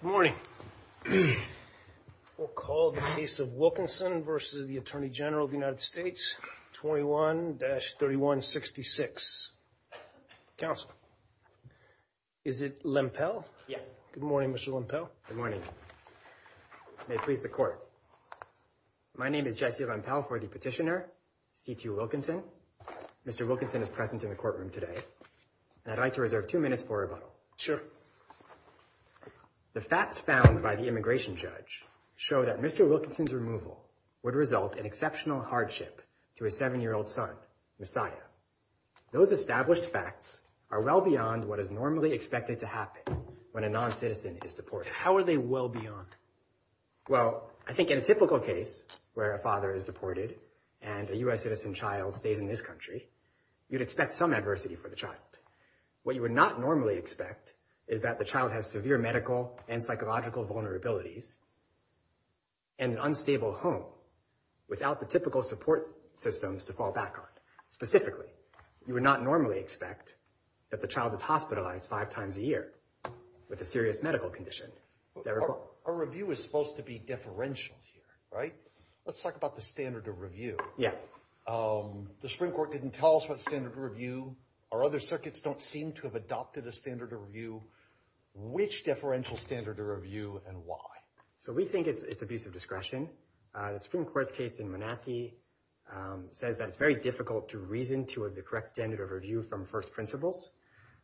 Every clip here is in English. Good morning, we will call the case of Wilkinson v. Attorney General USA 21-3166. Counsel, is it Lempel? Yes. Good morning, Mr. Lempel. Good morning. May it please the Court. My name is Jesse Lempel for the petitioner, C.T. Wilkinson. Mr. Wilkinson is present in the courtroom today, and I'd like to reserve two minutes for rebuttal. Sure. The facts found by the immigration judge show that Mr. Wilkinson's removal would result in exceptional hardship to his seven-year-old son, Messiah. Those established facts are well beyond what is normally expected to happen when a non-citizen is deported. How are they well beyond? Well, I think in a typical case where a father is deported and a U.S. citizen child stays in this country, you'd expect some adversity for the child. What you would not normally expect is that the child has severe medical and psychological vulnerabilities in an unstable home without the typical support systems to fall back on. Specifically, you would not normally expect that the child is hospitalized five times a year with a serious medical condition. Our review is supposed to be deferential here, right? Let's talk about the standard of review. Yeah. The Supreme Court didn't tell us what standard of review. Our other circuits don't seem to have adopted a standard of review. Which deferential standard of review and why? So we think it's abusive discretion. The Supreme Court's case in Monaskey says that it's very difficult to reason toward the correct standard of review from first principles.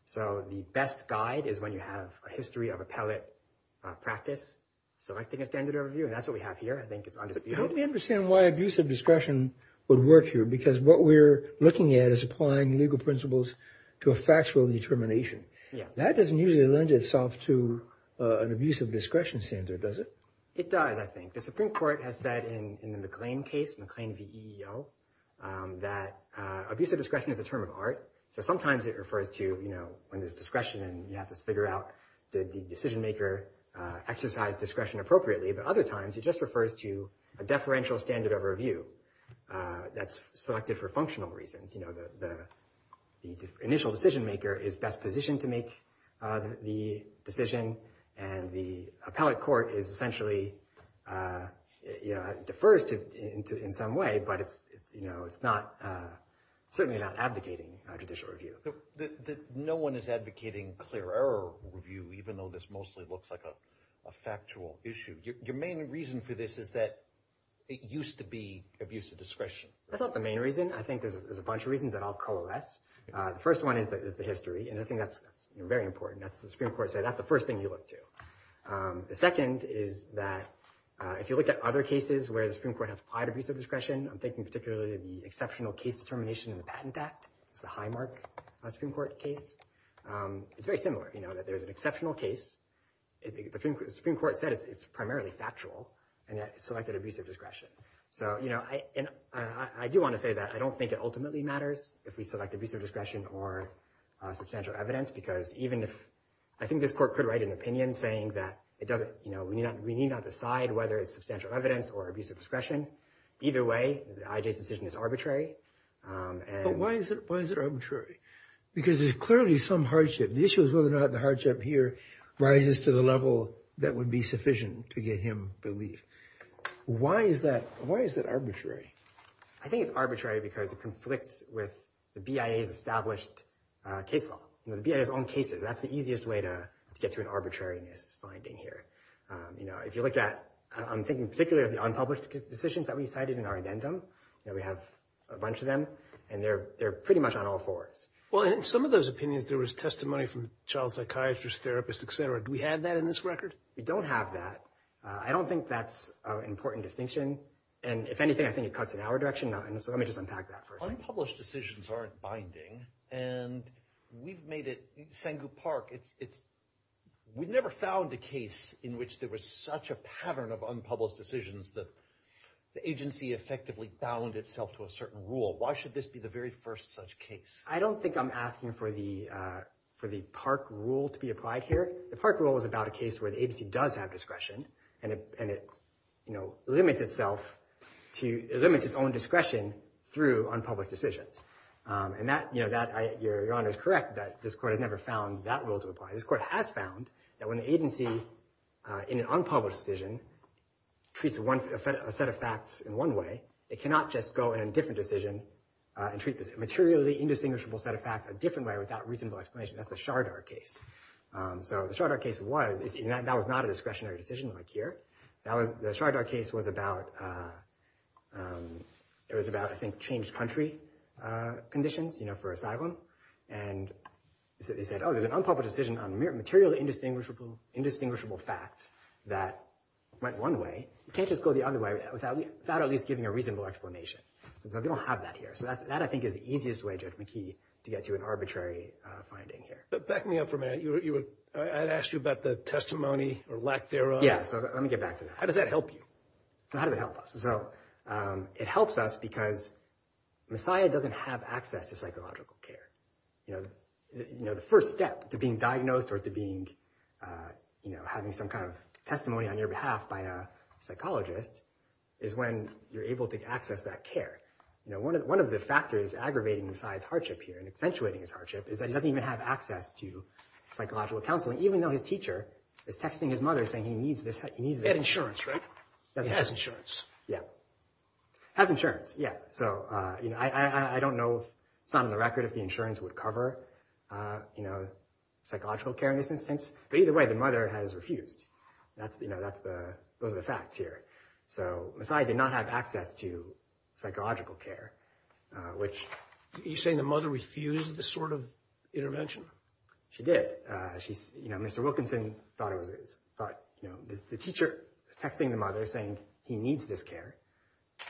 So the best guide is when you have a history of appellate practice. So I think it's standard of review, and that's what we have here. I think it's undisputed. How do we understand why abusive discretion would work here? Because what we're looking at is applying legal principles to a factual determination. That doesn't usually lend itself to an abusive discretion standard, does it? It does, I think. The Supreme Court has said in the McLean case, McLean v. EEO, that abusive discretion is a term of art. So sometimes it refers to when there's discretion and you have to figure out, did the decision maker exercise discretion appropriately? But other times, it just refers to a deferential standard of review that's selected for functional reasons. The initial decision maker is best positioned to make the decision, and the appellate court essentially defers to it in some way, but it's certainly not advocating judicial review. No one is advocating clear error review, even though this mostly looks like a factual issue. Your main reason for this is that it used to be abusive discretion. That's not the main reason. I think there's a bunch of reasons that all coalesce. The first one is the history, and I think that's very important. The Supreme Court said that's the first thing you look to. The second is that if you look at other cases where the Supreme Court has applied abusive discretion, I'm thinking particularly of the exceptional case determination in the Patent Act. It's the Highmark Supreme Court case. It's very similar. There's an exceptional case. The Supreme Court said it's primarily factual, and yet it selected abusive discretion. I do want to say that I don't think it ultimately matters if we select abusive discretion or substantial evidence, because I think this court could write an opinion saying that we need not decide whether it's substantial evidence or abusive discretion. Either way, I.J.'s decision is arbitrary. But why is it arbitrary? Because there's clearly some hardship. The issue is whether or not the hardship here rises to the level that would be sufficient to get him relieved. Why is that arbitrary? I think it's arbitrary because it conflicts with the BIA's established case law, the BIA's own cases. That's the easiest way to get to an arbitrariness finding here. If you look at – I'm thinking particularly of the unpublished decisions that we cited in our addendum. We have a bunch of them, and they're pretty much on all fours. Well, in some of those opinions, there was testimony from child psychiatrists, therapists, et cetera. Do we have that in this record? We don't have that. I don't think that's an important distinction. And if anything, I think it cuts in our direction. So let me just unpack that for a second. Unpublished decisions aren't binding, and we've made it – Sengu Park, it's – we've never found a case in which there was such a pattern of unpublished decisions that the agency effectively bound itself to a certain rule. Why should this be the very first such case? I don't think I'm asking for the park rule to be applied here. The park rule is about a case where the agency does have discretion, and it limits itself to – it limits its own discretion through unpublished decisions. And that – your Honor is correct that this court has never found that rule to apply. This court has found that when the agency, in an unpublished decision, treats a set of facts in one way, it cannot just go in a different decision and treat this materially indistinguishable set of facts a different way without reasonable explanation. That's the Shardar case. So the Shardar case was – that was not a discretionary decision like here. That was – the Shardar case was about – it was about, I think, changed country conditions for asylum. And they said, oh, there's an unpublished decision on material indistinguishable facts that went one way. You can't just go the other way without at least giving a reasonable explanation. So we don't have that here. So that, I think, is the easiest way, Judge McKee, to get to an arbitrary finding here. But back me up for a minute. I asked you about the testimony or lack thereof. Yeah, so let me get back to that. How does that help you? How does it help us? So it helps us because Messiah doesn't have access to psychological care. The first step to being diagnosed or to being – having some kind of testimony on your behalf by a psychologist is when you're able to access that care. One of the factors aggravating Messiah's hardship here and accentuating his hardship is that he doesn't even have access to psychological counseling, even though his teacher is texting his mother saying he needs this – he needs this. He had insurance, right? He has insurance. Yeah. Has insurance, yeah. So I don't know – it's not on the record if the insurance would cover psychological care in this instance. But either way, the mother has refused. That's the – those are the facts here. So Messiah did not have access to psychological care, which – Are you saying the mother refused this sort of intervention? She did. She – Mr. Wilkinson thought it was – thought – the teacher was texting the mother saying he needs this care.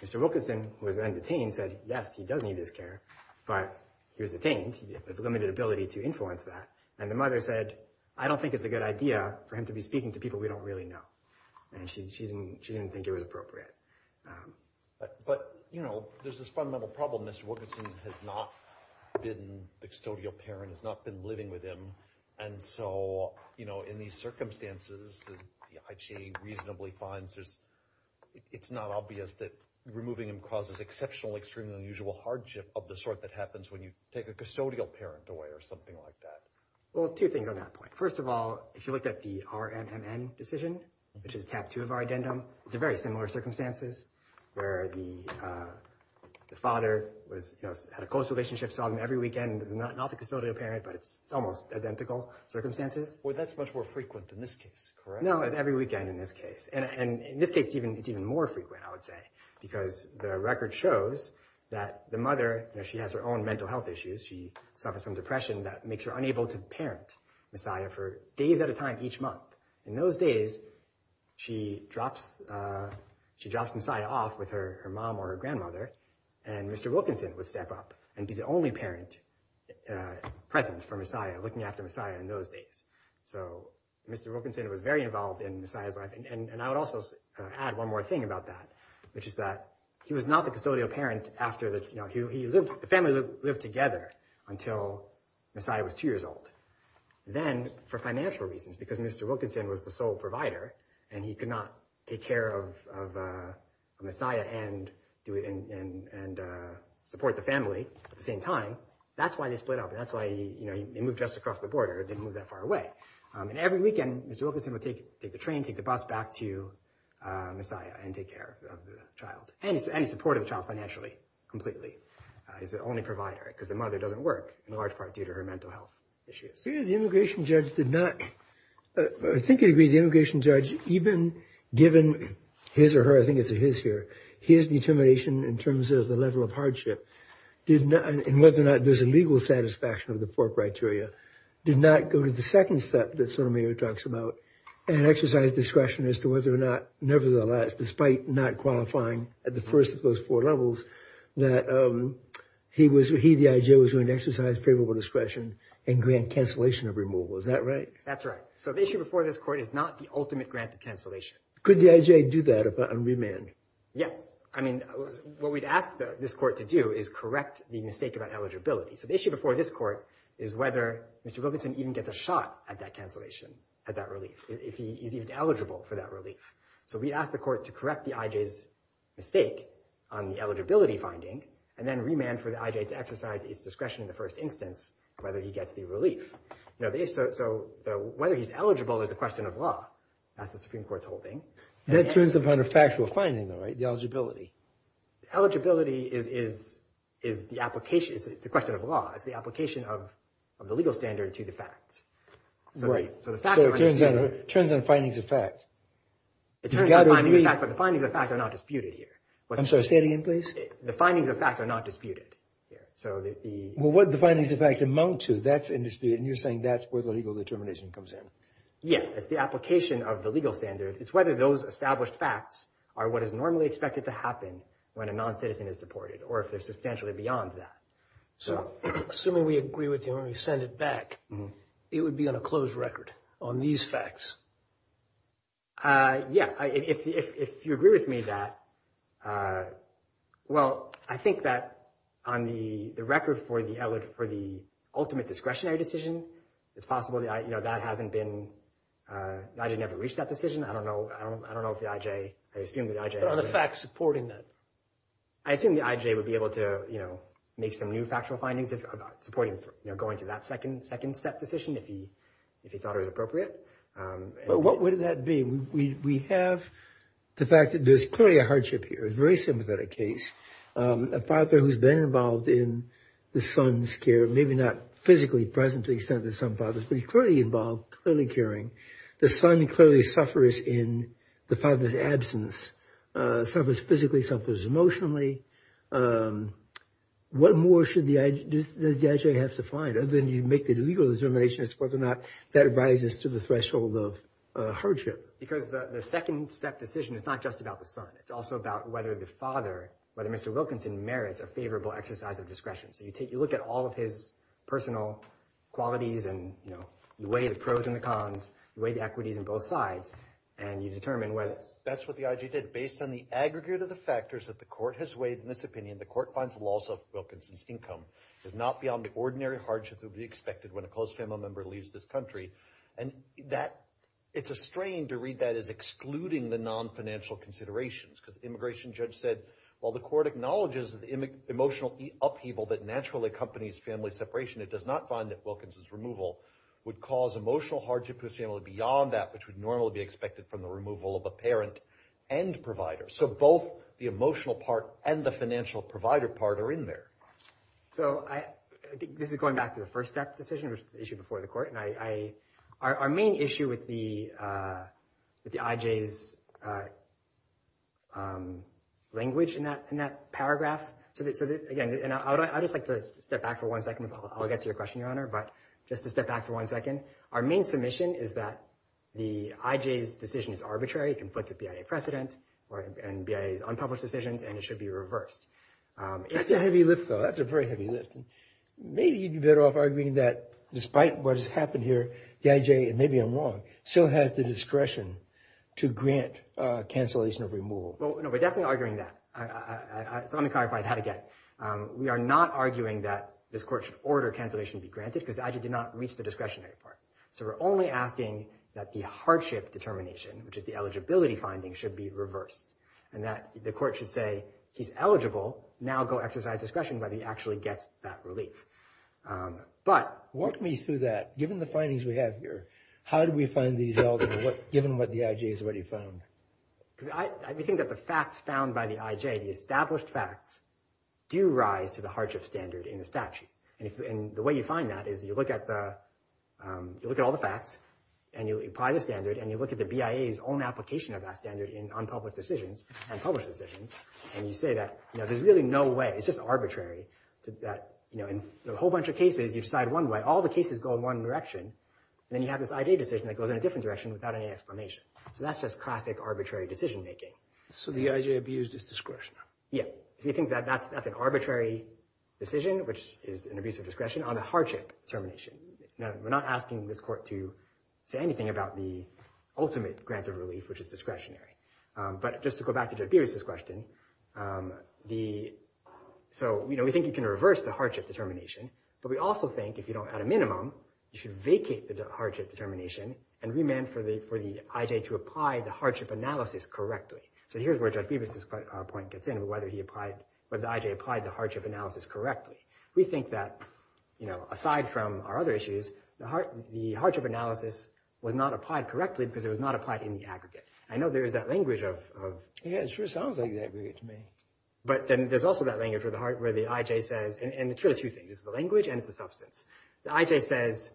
Mr. Wilkinson, who was then detained, said, yes, he does need this care, but he was detained. He had limited ability to influence that. And the mother said, I don't think it's a good idea for him to be speaking to people we don't really know. And she didn't think it was appropriate. But, you know, there's this fundamental problem. Mr. Wilkinson has not been the custodial parent, has not been living with him. And so, you know, in these circumstances, the IGA reasonably finds there's – it's not obvious that removing him causes exceptional, extremely unusual hardship of the sort that happens when you take a custodial parent away or something like that. Well, two things on that point. First of all, if you look at the RMNN decision, which is tab two of our addendum, it's a very similar circumstances where the father was – had a close relationship, saw him every weekend. It's not the custodial parent, but it's almost identical circumstances. Well, that's much more frequent in this case, correct? No, it's every weekend in this case. And in this case, it's even more frequent, I would say, because the record shows that the mother – she has her own mental health issues. She suffers from depression that makes her unable to parent Messiah for days at a time each month. In those days, she drops Messiah off with her mom or her grandmother, and Mr. Wilkinson would step up and be the only parent present for Messiah, looking after Messiah in those days. So Mr. Wilkinson was very involved in Messiah's life. And I would also add one more thing about that, which is that he was not the custodial parent after the – he lived – the family lived together until Messiah was two years old. Then, for financial reasons, because Mr. Wilkinson was the sole provider, and he could not take care of Messiah and do – and support the family at the same time, that's why they split up, and that's why, you know, they moved just across the border. They didn't move that far away. And every weekend, Mr. Wilkinson would take the train, take the bus back to Messiah and take care of the child. And he supported the child financially, completely. He's the only provider, because the mother doesn't work, in large part due to her mental health issues. The immigration judge did not – I think he agreed the immigration judge, even given his or her – I think it's a his here – his determination in terms of the level of hardship did not – and whether or not there's a legal satisfaction of the four criteria, did not go to the second step that Sotomayor talks about, and exercise discretion as to whether or not, nevertheless, despite not qualifying at the first of those four levels, that he, the IJ, was going to exercise favorable discretion and grant cancellation of removal. Is that right? That's right. So the issue before this court is not the ultimate grant of cancellation. Could the IJ do that on remand? Yes. I mean, what we'd ask this court to do is correct the mistake about eligibility. So the issue before this court is whether Mr. Wilkinson even gets a shot at that cancellation, at that relief, if he's even eligible for that relief. So we'd ask the court to correct the IJ's mistake on the eligibility finding, and then remand for the IJ to exercise its discretion in the first instance, whether he gets the relief. So whether he's eligible is a question of law. That's the Supreme Court's holding. That turns upon a factual finding, though, right? The eligibility. Eligibility is the application – it's a question of law. It's the application of the legal standard to the facts. So it turns on findings of fact. It turns on findings of fact, but the findings of fact are not disputed here. I'm sorry. Say it again, please. The findings of fact are not disputed here. Well, what the findings of fact amount to, that's in dispute, and you're saying that's where the legal determination comes in. Yes. It's the application of the legal standard. It's whether those established facts are what is normally expected to happen when a noncitizen is deported, or if they're substantially beyond that. So assuming we agree with you and we send it back, it would be on a closed record on these facts. Yeah. If you agree with me that – well, I think that on the record for the ultimate discretionary decision, it's possible that hasn't been – the IJ never reached that decision. I don't know if the IJ – I assume the IJ – But on the facts supporting that. I assume the IJ would be able to make some new factual findings about supporting going to that second step decision if he thought it was appropriate. But what would that be? We have the fact that there's clearly a hardship here. It's a very sympathetic case. A father who's been involved in the son's care, maybe not physically present to the extent that some fathers, but he's clearly involved, clearly caring. The son clearly suffers in the father's absence, suffers physically, suffers emotionally. What more should the – does the IJ have to find? Other than you make the legal determination as to whether or not that rises to the threshold of hardship. Because the second step decision is not just about the son. It's also about whether the father, whether Mr. Wilkinson merits a favorable exercise of discretion. So you take – you look at all of his personal qualities and, you know, the way the pros and the cons, the way the equities on both sides, and you determine whether – That's what the IJ did. Based on the aggregate of the factors that the court has weighed in this opinion, the court finds the loss of Wilkinson's income is not beyond the ordinary hardship that would be expected when a close family member leaves this country. And that – it's a strain to read that as excluding the non-financial considerations. Because the immigration judge said, well, the court acknowledges the emotional upheaval that naturally accompanies family separation. It does not find that Wilkinson's removal would cause emotional hardship to his family beyond that which would normally be expected from the removal of a parent and provider. So both the emotional part and the financial provider part are in there. So I – this is going back to the first step decision, which is the issue before the court. And I – our main issue with the IJ's language in that paragraph – so again, and I would just like to step back for one second. I'll get to your question, Your Honor, but just to step back for one second. Our main submission is that the IJ's decision is arbitrary. It conflicts with BIA precedent and BIA's unpublished decisions, and it should be reversed. That's a heavy lift, though. That's a very heavy lift. Maybe you'd be better off arguing that despite what has happened here, the IJ – and maybe I'm wrong – still has the discretion to grant cancellation of removal. Well, no, we're definitely arguing that. So let me clarify that again. We are not arguing that this court should order cancellation to be granted because the IJ did not reach the discretionary part. So we're only asking that the hardship determination, which is the eligibility finding, should be reversed. And that the court should say, he's eligible. Now go exercise discretion whether he actually gets that relief. But – Walk me through that. Given the findings we have here, how do we find these eligible, given what the IJ has already found? Because I think that the facts found by the IJ, the established facts, do rise to the hardship standard in the statute. And the way you find that is you look at the – you look at all the facts, and you apply the standard, and you look at the BIA's own application of that standard in unpublished decisions and published decisions, and you say that there's really no way. It's just arbitrary. In a whole bunch of cases, you decide one way. All the cases go in one direction, and then you have this IJ decision that goes in a different direction without any explanation. So that's just classic arbitrary decision-making. So the IJ abused its discretion. Yeah. If you think that that's an arbitrary decision, which is an abuse of discretion, on the hardship determination. We're not asking this court to say anything about the ultimate grant of relief, which is discretionary. But just to go back to Judge Beavis' question, we think you can reverse the hardship determination, but we also think if you don't add a minimum, you should vacate the hardship determination and remand for the IJ to apply the hardship analysis correctly. So here's where Judge Beavis' point gets in, whether the IJ applied the hardship analysis correctly. We think that, aside from our other issues, the hardship analysis was not applied correctly because it was not applied in the aggregate. I know there is that language of... Yeah, it sure sounds like the aggregate to me. But there's also that language where the IJ says... And it's really two things. It's the language and it's the substance. The IJ says...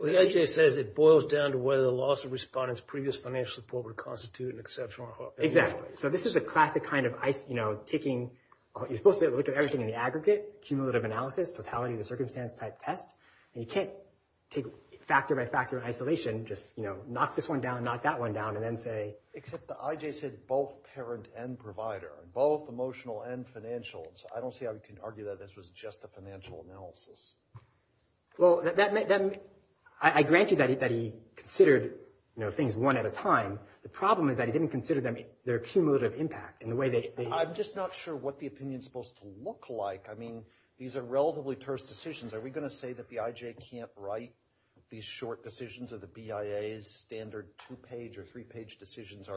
The IJ says it boils down to whether the loss of respondents' previous financial support would constitute an exceptional... Exactly. So this is a classic kind of taking... You're supposed to look at everything in the aggregate, cumulative analysis, totality of the circumstance type test. And you can't take factor by factor isolation, just knock this one down, knock that one down, and then say... Except the IJ said both parent and provider, both emotional and financial. So I don't see how we can argue that this was just a financial analysis. Well, I grant you that he considered things one at a time. The problem is that he didn't consider their cumulative impact and the way they... I'm just not sure what the opinion is supposed to look like. I mean, these are relatively terse decisions. Are we going to say that the IJ can't write these short decisions or the BIA's standard two-page or three-page decisions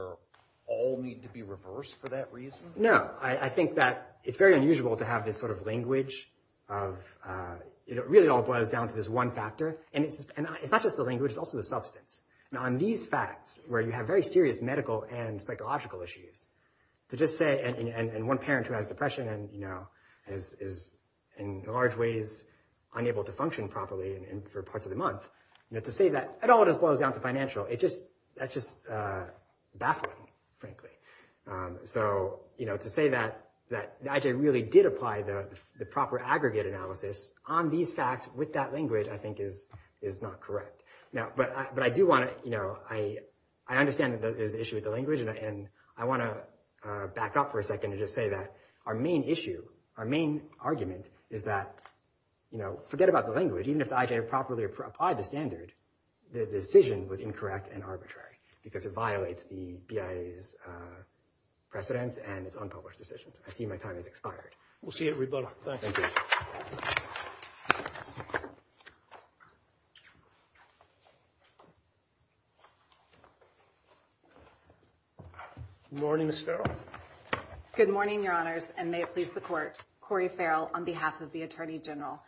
all need to be reversed for that reason? No. I think that it's very unusual to have this sort of language of... It really all boils down to this one factor. And it's not just the language, it's also the substance. And on these facts, where you have very serious medical and psychological issues, to just say... And one parent who has depression and is in large ways unable to function properly for parts of the month, to say that it all just boils down to financial, that's just baffling, frankly. So to say that the IJ really did apply the proper aggregate analysis on these facts with that language I think is not correct. But I do want to... I understand that there's an issue with the language and I want to back up for a second and just say that our main issue, our main argument is that... Forget about the language. Even if the IJ had properly applied the standard, the decision was incorrect and arbitrary because it violates the BIA's precedents and its unpublished decisions. I see my time has expired. We'll see you at Rebola. Thanks. Thank you. Good morning, Ms. Farrell. Good morning, Your Honors, and may it please the Court, Corey Farrell on behalf of the Attorney General.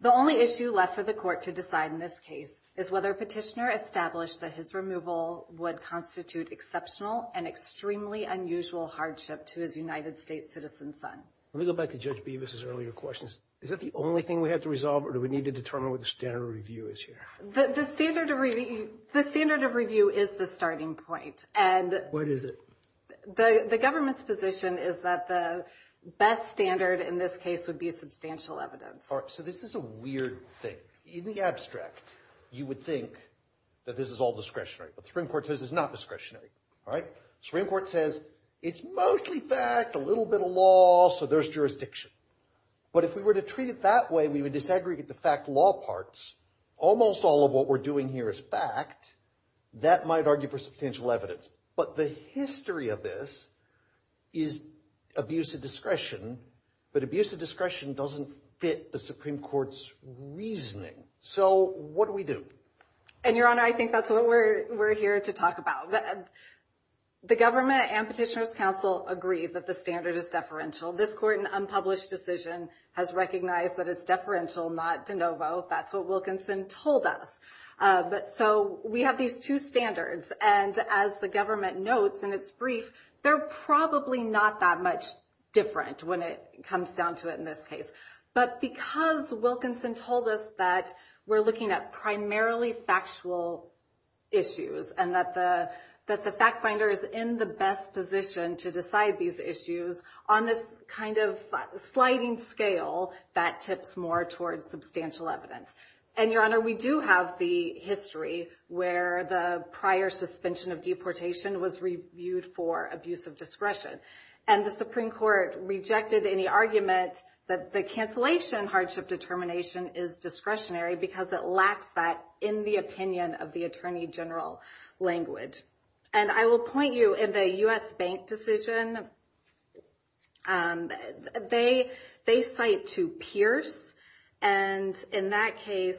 The only issue left for the Court to decide in this case is whether Petitioner established that his removal would constitute exceptional and extremely unusual hardship to his United States citizen son. Let me go back to Judge Bevis' earlier questions. Is that the only thing we have to resolve or do we need to determine what the standard review is here? The standard of review is the starting point. What is it? The government's position is that the best standard in this case would be substantial evidence. All right, so this is a weird thing. In the abstract, you would think that this is all discretionary, but the Supreme Court says it's not discretionary. The Supreme Court says it's mostly fact, a little bit of law, so there's jurisdiction. But if we were to treat it that way, we would disaggregate the fact law parts. Almost all of what we're doing here is fact. That might argue for substantial evidence. But the history of this is abuse of discretion, but abuse of discretion doesn't fit the Supreme Court's reasoning. So what do we do? And, Your Honor, I think that's what we're here to talk about. The government and Petitioner's counsel agree that the standard is deferential. This court, in an unpublished decision, has recognized that it's deferential, not de novo. That's what Wilkinson told us. So we have these two standards, and as the government notes in its brief, they're probably not that much different when it comes down to it in this case. But because Wilkinson told us that we're looking at primarily factual issues and that the fact finder is in the best position to decide these issues, on this kind of sliding scale, that tips more towards substantial evidence. And, Your Honor, we do have the history where the prior suspension of deportation was reviewed for abuse of discretion. And the Supreme Court rejected any argument that the cancellation hardship determination is discretionary because it lacks that in the opinion of the attorney general language. And I will point you, in the U.S. Bank decision, they cite to Pierce, and in that case,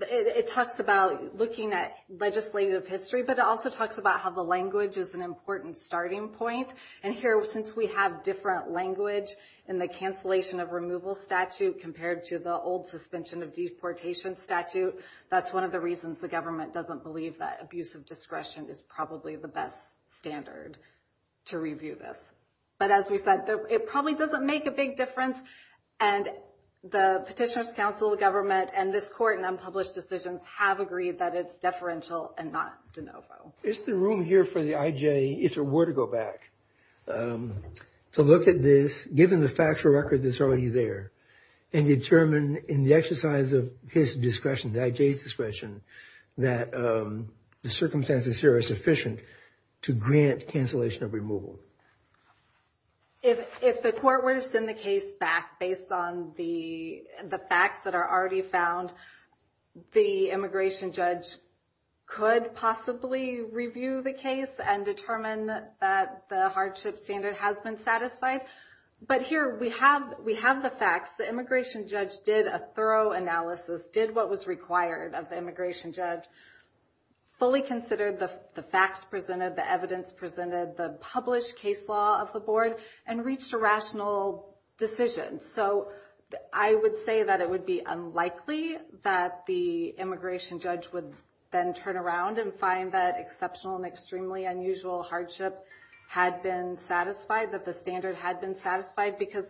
it talks about looking at legislative history, but it also talks about how the language is an important starting point. And here, since we have different language in the cancellation of removal statute compared to the old suspension of deportation statute, that's one of the reasons the government doesn't believe that abuse of discretion is probably the best standard to review this. But as we said, it probably doesn't make a big difference, and the Petitioner's Council, the government, and this Court in unpublished decisions have agreed that it's deferential and not de novo. Is there room here for the IJ, if there were to go back, to look at this, given the factual record that's already there, and determine in the exercise of his discretion, the IJ's discretion, that the circumstances here are sufficient to grant cancellation of removal? If the Court were to send the case back based on the facts that are already found, the immigration judge could possibly review the case and determine that the hardship standard has been satisfied. But here, we have the facts. The immigration judge did a thorough analysis, did what was required of the immigration judge, fully considered the facts presented, the evidence presented, the published case law of the Board, and reached a rational decision. So I would say that it would be unlikely that the immigration judge would then turn around and find that exceptional and extremely unusual hardship had been satisfied, that the standard had been satisfied, because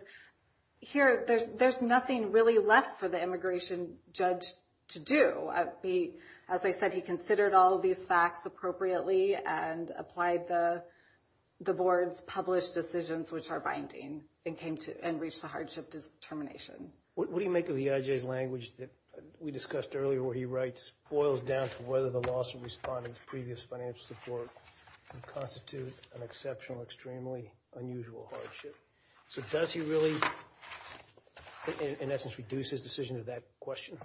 here, there's nothing really left for the immigration judge to do. As I said, he considered all of these facts appropriately and applied the Board's published decisions, which are binding, and reached the hardship determination. What do you make of the IJ's language that we discussed earlier, where he writes, boils down to whether the lawsuit responding to previous financial support constitutes an exceptional, extremely unusual hardship? So does he really, in essence, reduce his decision to that question?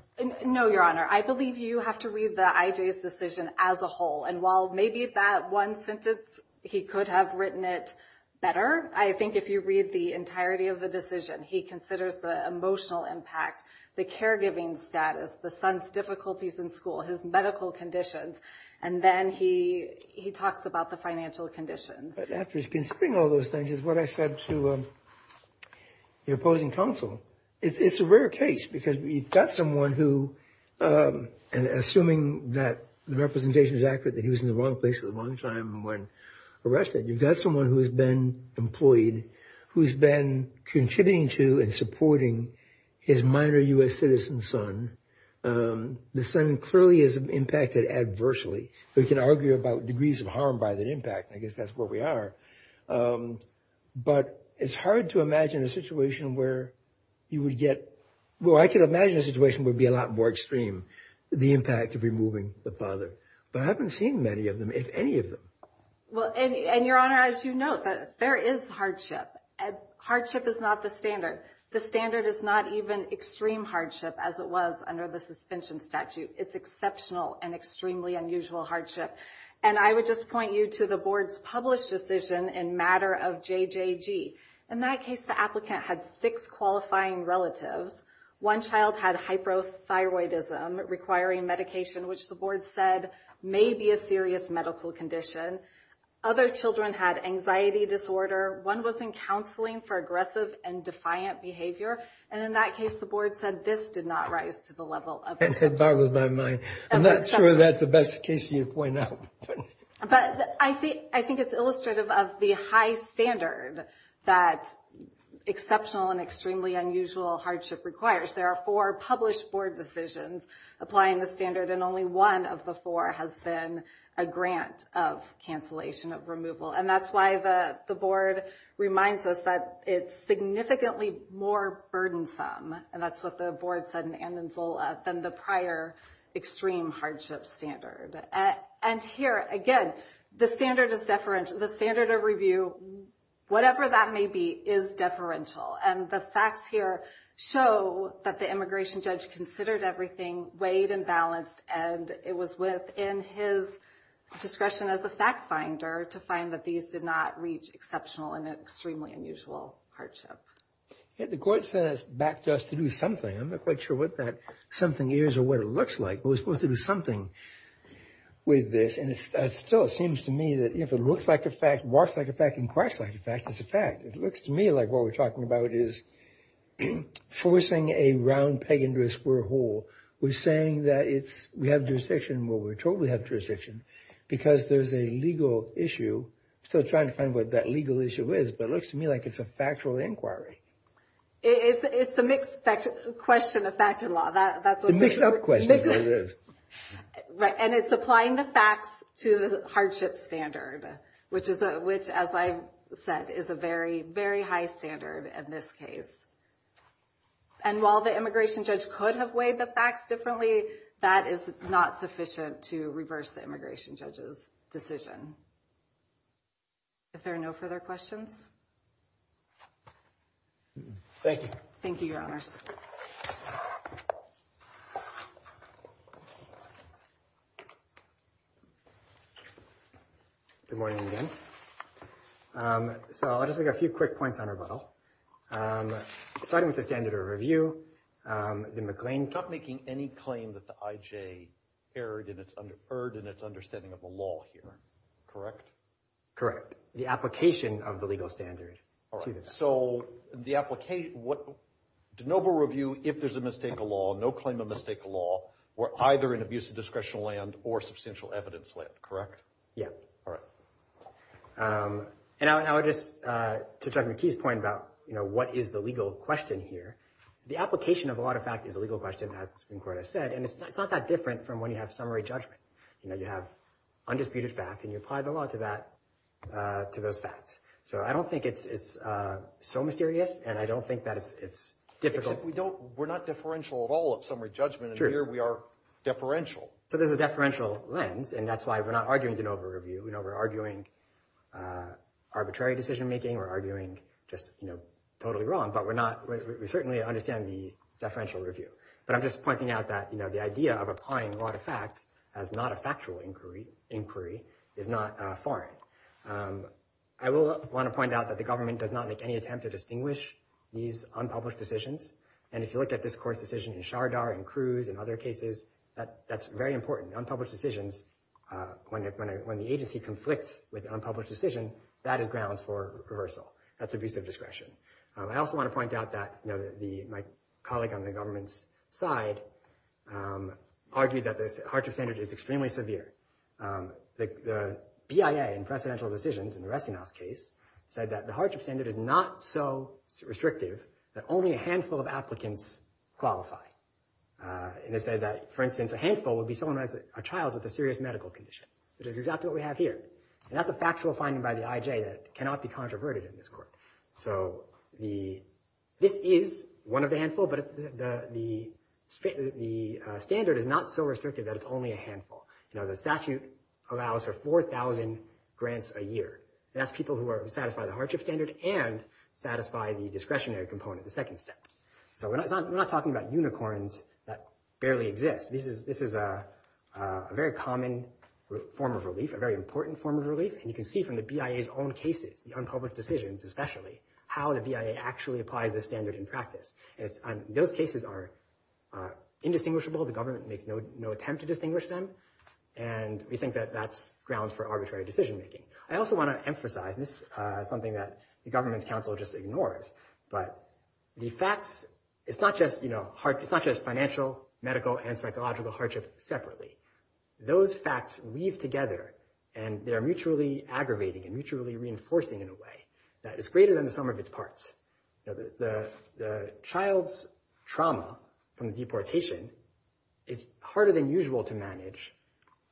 No, Your Honor. I believe you have to read the IJ's decision as a whole, and while maybe that one sentence, he could have written it better, I think if you read the entirety of the decision, he considers the emotional impact, the caregiving status, the son's difficulties in school, his medical conditions, and then he talks about the financial conditions. After he's considering all those things, is what I said to the opposing counsel. It's a rare case, because you've got someone who, and assuming that the representation is accurate, that he was in the wrong place at the wrong time when arrested, you've got someone who has been employed, who's been contributing to and supporting his minor U.S. citizen son. The son clearly is impacted adversely. We can argue about degrees of harm by the impact. I guess that's where we are. But it's hard to imagine a situation where you would get, well I can imagine a situation would be a lot more extreme, the impact of removing the father. But I haven't seen many of them, if any of them. Well, and Your Honor, as you note, there is hardship. Hardship is not the standard. The standard is not even extreme hardship as it was under the suspension statute. It's exceptional and extremely unusual hardship. And I would just point you to the board's published decision in matter of JJG. In that case, the applicant had six qualifying relatives. One child had hypothyroidism requiring medication, which the board said may be a serious medical condition. Other children had anxiety disorder. One was in counseling for aggressive and defiant behavior. And in that case, the board said this did not rise to the level of this. That boggles my mind. I'm not sure that's the best case you'd point out. But I think it's illustrative of the high standard that exceptional and extremely unusual hardship requires. There are four published board decisions applying the standard, and only one of the four has been a grant of cancellation of removal. And that's why the board reminds us that it's significantly more burdensome, and that's what the board said in Andenzola, than the prior extreme hardship standard. And here, again, the standard is deferential. The standard of review, whatever that may be, is deferential. And the facts here show that the immigration judge considered everything, weighed and balanced, and it was within his discretion as a fact finder to find that these did not reach exceptional and extremely unusual hardship. The court said it's back to us to do something. I'm not quite sure what that something is or what it looks like, but we're supposed to do something with this. And it still seems to me that if it looks like a fact, walks like a fact, and quacks like a fact, it's a fact. It looks to me like what we're talking about is forcing a round peg into a square hole. We're saying that we have jurisdiction. Well, we totally have jurisdiction because there's a legal issue. I'm still trying to find what that legal issue is, but it looks to me like it's a factual inquiry. It's a mixed question of fact and law. It's a mixed up question. And it's applying the facts to the hardship standard, which, as I've said, is a very, very high standard in this case. And while the immigration judge could have weighed the facts differently, that is not sufficient to reverse the immigration judge's decision. Are there no further questions? Thank you. Thank you, Your Honors. Good morning again. So I'll just make a few quick points on rebuttal. Starting with the standard of review, the McLean case is not making any claim that the IJ erred in its understanding of the law here. Correct? Correct. The application of the legal standard to the fact. So the application, what, de novo review, if there's a mistake of law, no claim of mistake of law, we're either in abusive discretion land or substantial evidence land, correct? Yeah. All right. And I would just, to Chuck McKee's point about, you know, what is the legal question here, the application of a lot of fact is a legal question, as the Supreme Court has said, and it's not that different from when you have summary judgment. You know, you have undisputed facts, and you apply the law to that, to those facts. So I don't think it's so mysterious, and I don't think that it's difficult. We're not differential at all at summary judgment, and here we are deferential. So there's a deferential lens, and that's why we're not arguing de novo review. You know, we're arguing arbitrary decision making. We're arguing just, you know, totally wrong. But we're not, we certainly understand the deferential review. But I'm just pointing out that, you know, the idea of applying a lot of facts as not a factual inquiry is not foreign. I will want to point out that the government does not make any attempt to distinguish these unpublished decisions, and if you look at this court's decision in Shardar and Cruz and other cases, that's very important. Unpublished decisions, when the agency conflicts with unpublished decision, that is grounds for reversal. That's abusive discretion. I also want to point out that, you know, my colleague on the government's side argued that this hardship standard is extremely severe. The BIA in precedential decisions in the Ressinghaus case said that the hardship standard is not so restrictive that only a handful of applicants qualify. And they said that, for instance, a handful would be someone as a child with a serious medical condition, which is exactly what we have here. And that's a factual finding by the IJ that cannot be controverted in this court. So this is one of the handful, but the standard is not so restrictive that it's only a handful. You know, the statute allows for 4,000 grants a year. That's people who satisfy the hardship standard and satisfy the discretionary component, the second step. So we're not talking about unicorns that barely exist. This is a very common form of relief, a very important form of relief. And you can see from the BIA's own cases, the unpublished decisions especially, how the BIA actually applies this standard in practice. Those cases are indistinguishable. The government makes no attempt to distinguish them. And we think that that's grounds for arbitrary decision-making. I also want to emphasize, and this is something that the government's counsel just ignores, but the facts, it's not just, you know, it's not just financial, medical, and psychological hardship separately. Those facts weave together and they are mutually aggravating and mutually reinforcing in a way that is greater than the sum of its parts. The child's trauma from the deportation is harder than usual to manage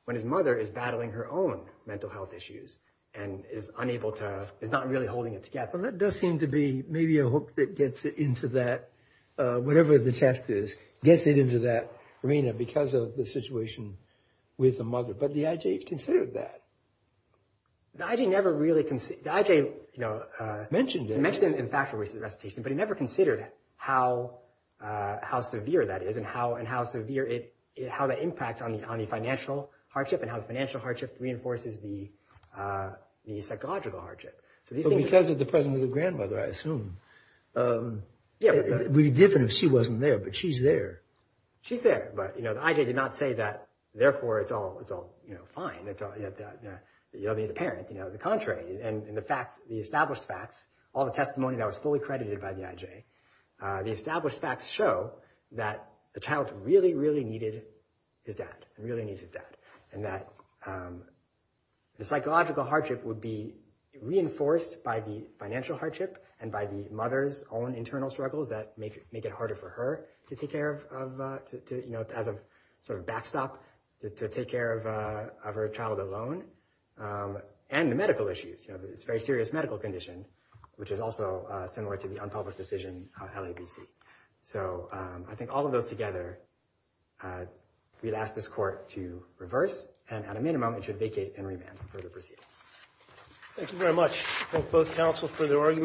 when his mother is battling her own mental health issues and is unable to, is not really holding it together. Well, that does seem to be maybe a hook that gets it into that, whatever the test is, gets it into that arena because of the situation with the mother. But the IJ considered that. The IJ never really, the IJ, you know, mentioned it in factual recitation, but he never considered how severe that is and how severe it, how that impacts on the financial hardship and how the financial hardship reinforces the psychological hardship. But because of the presence of the grandmother, I assume, it would be different if she wasn't there, but she's there. She's there, but, you know, the IJ did not say that, therefore, it's all, you know, fine. You don't need a parent, you know. On the contrary, in the facts, the established facts, all the testimony that was fully credited by the IJ, the established facts show that the child really, really needed his dad, really needs his dad, and that the psychological hardship would be reinforced by the financial hardship and by the mother's own internal struggles that make it harder for her to take care of, you know, as a sort of backstop to take care of her child alone, and the medical issues, you know, this very serious medical condition, which is also similar to the unpublished decision of LABC. So I think all of those together, we'd ask this court to reverse, and at a minimum, it should vacate and remand for further proceedings. Thank you very much.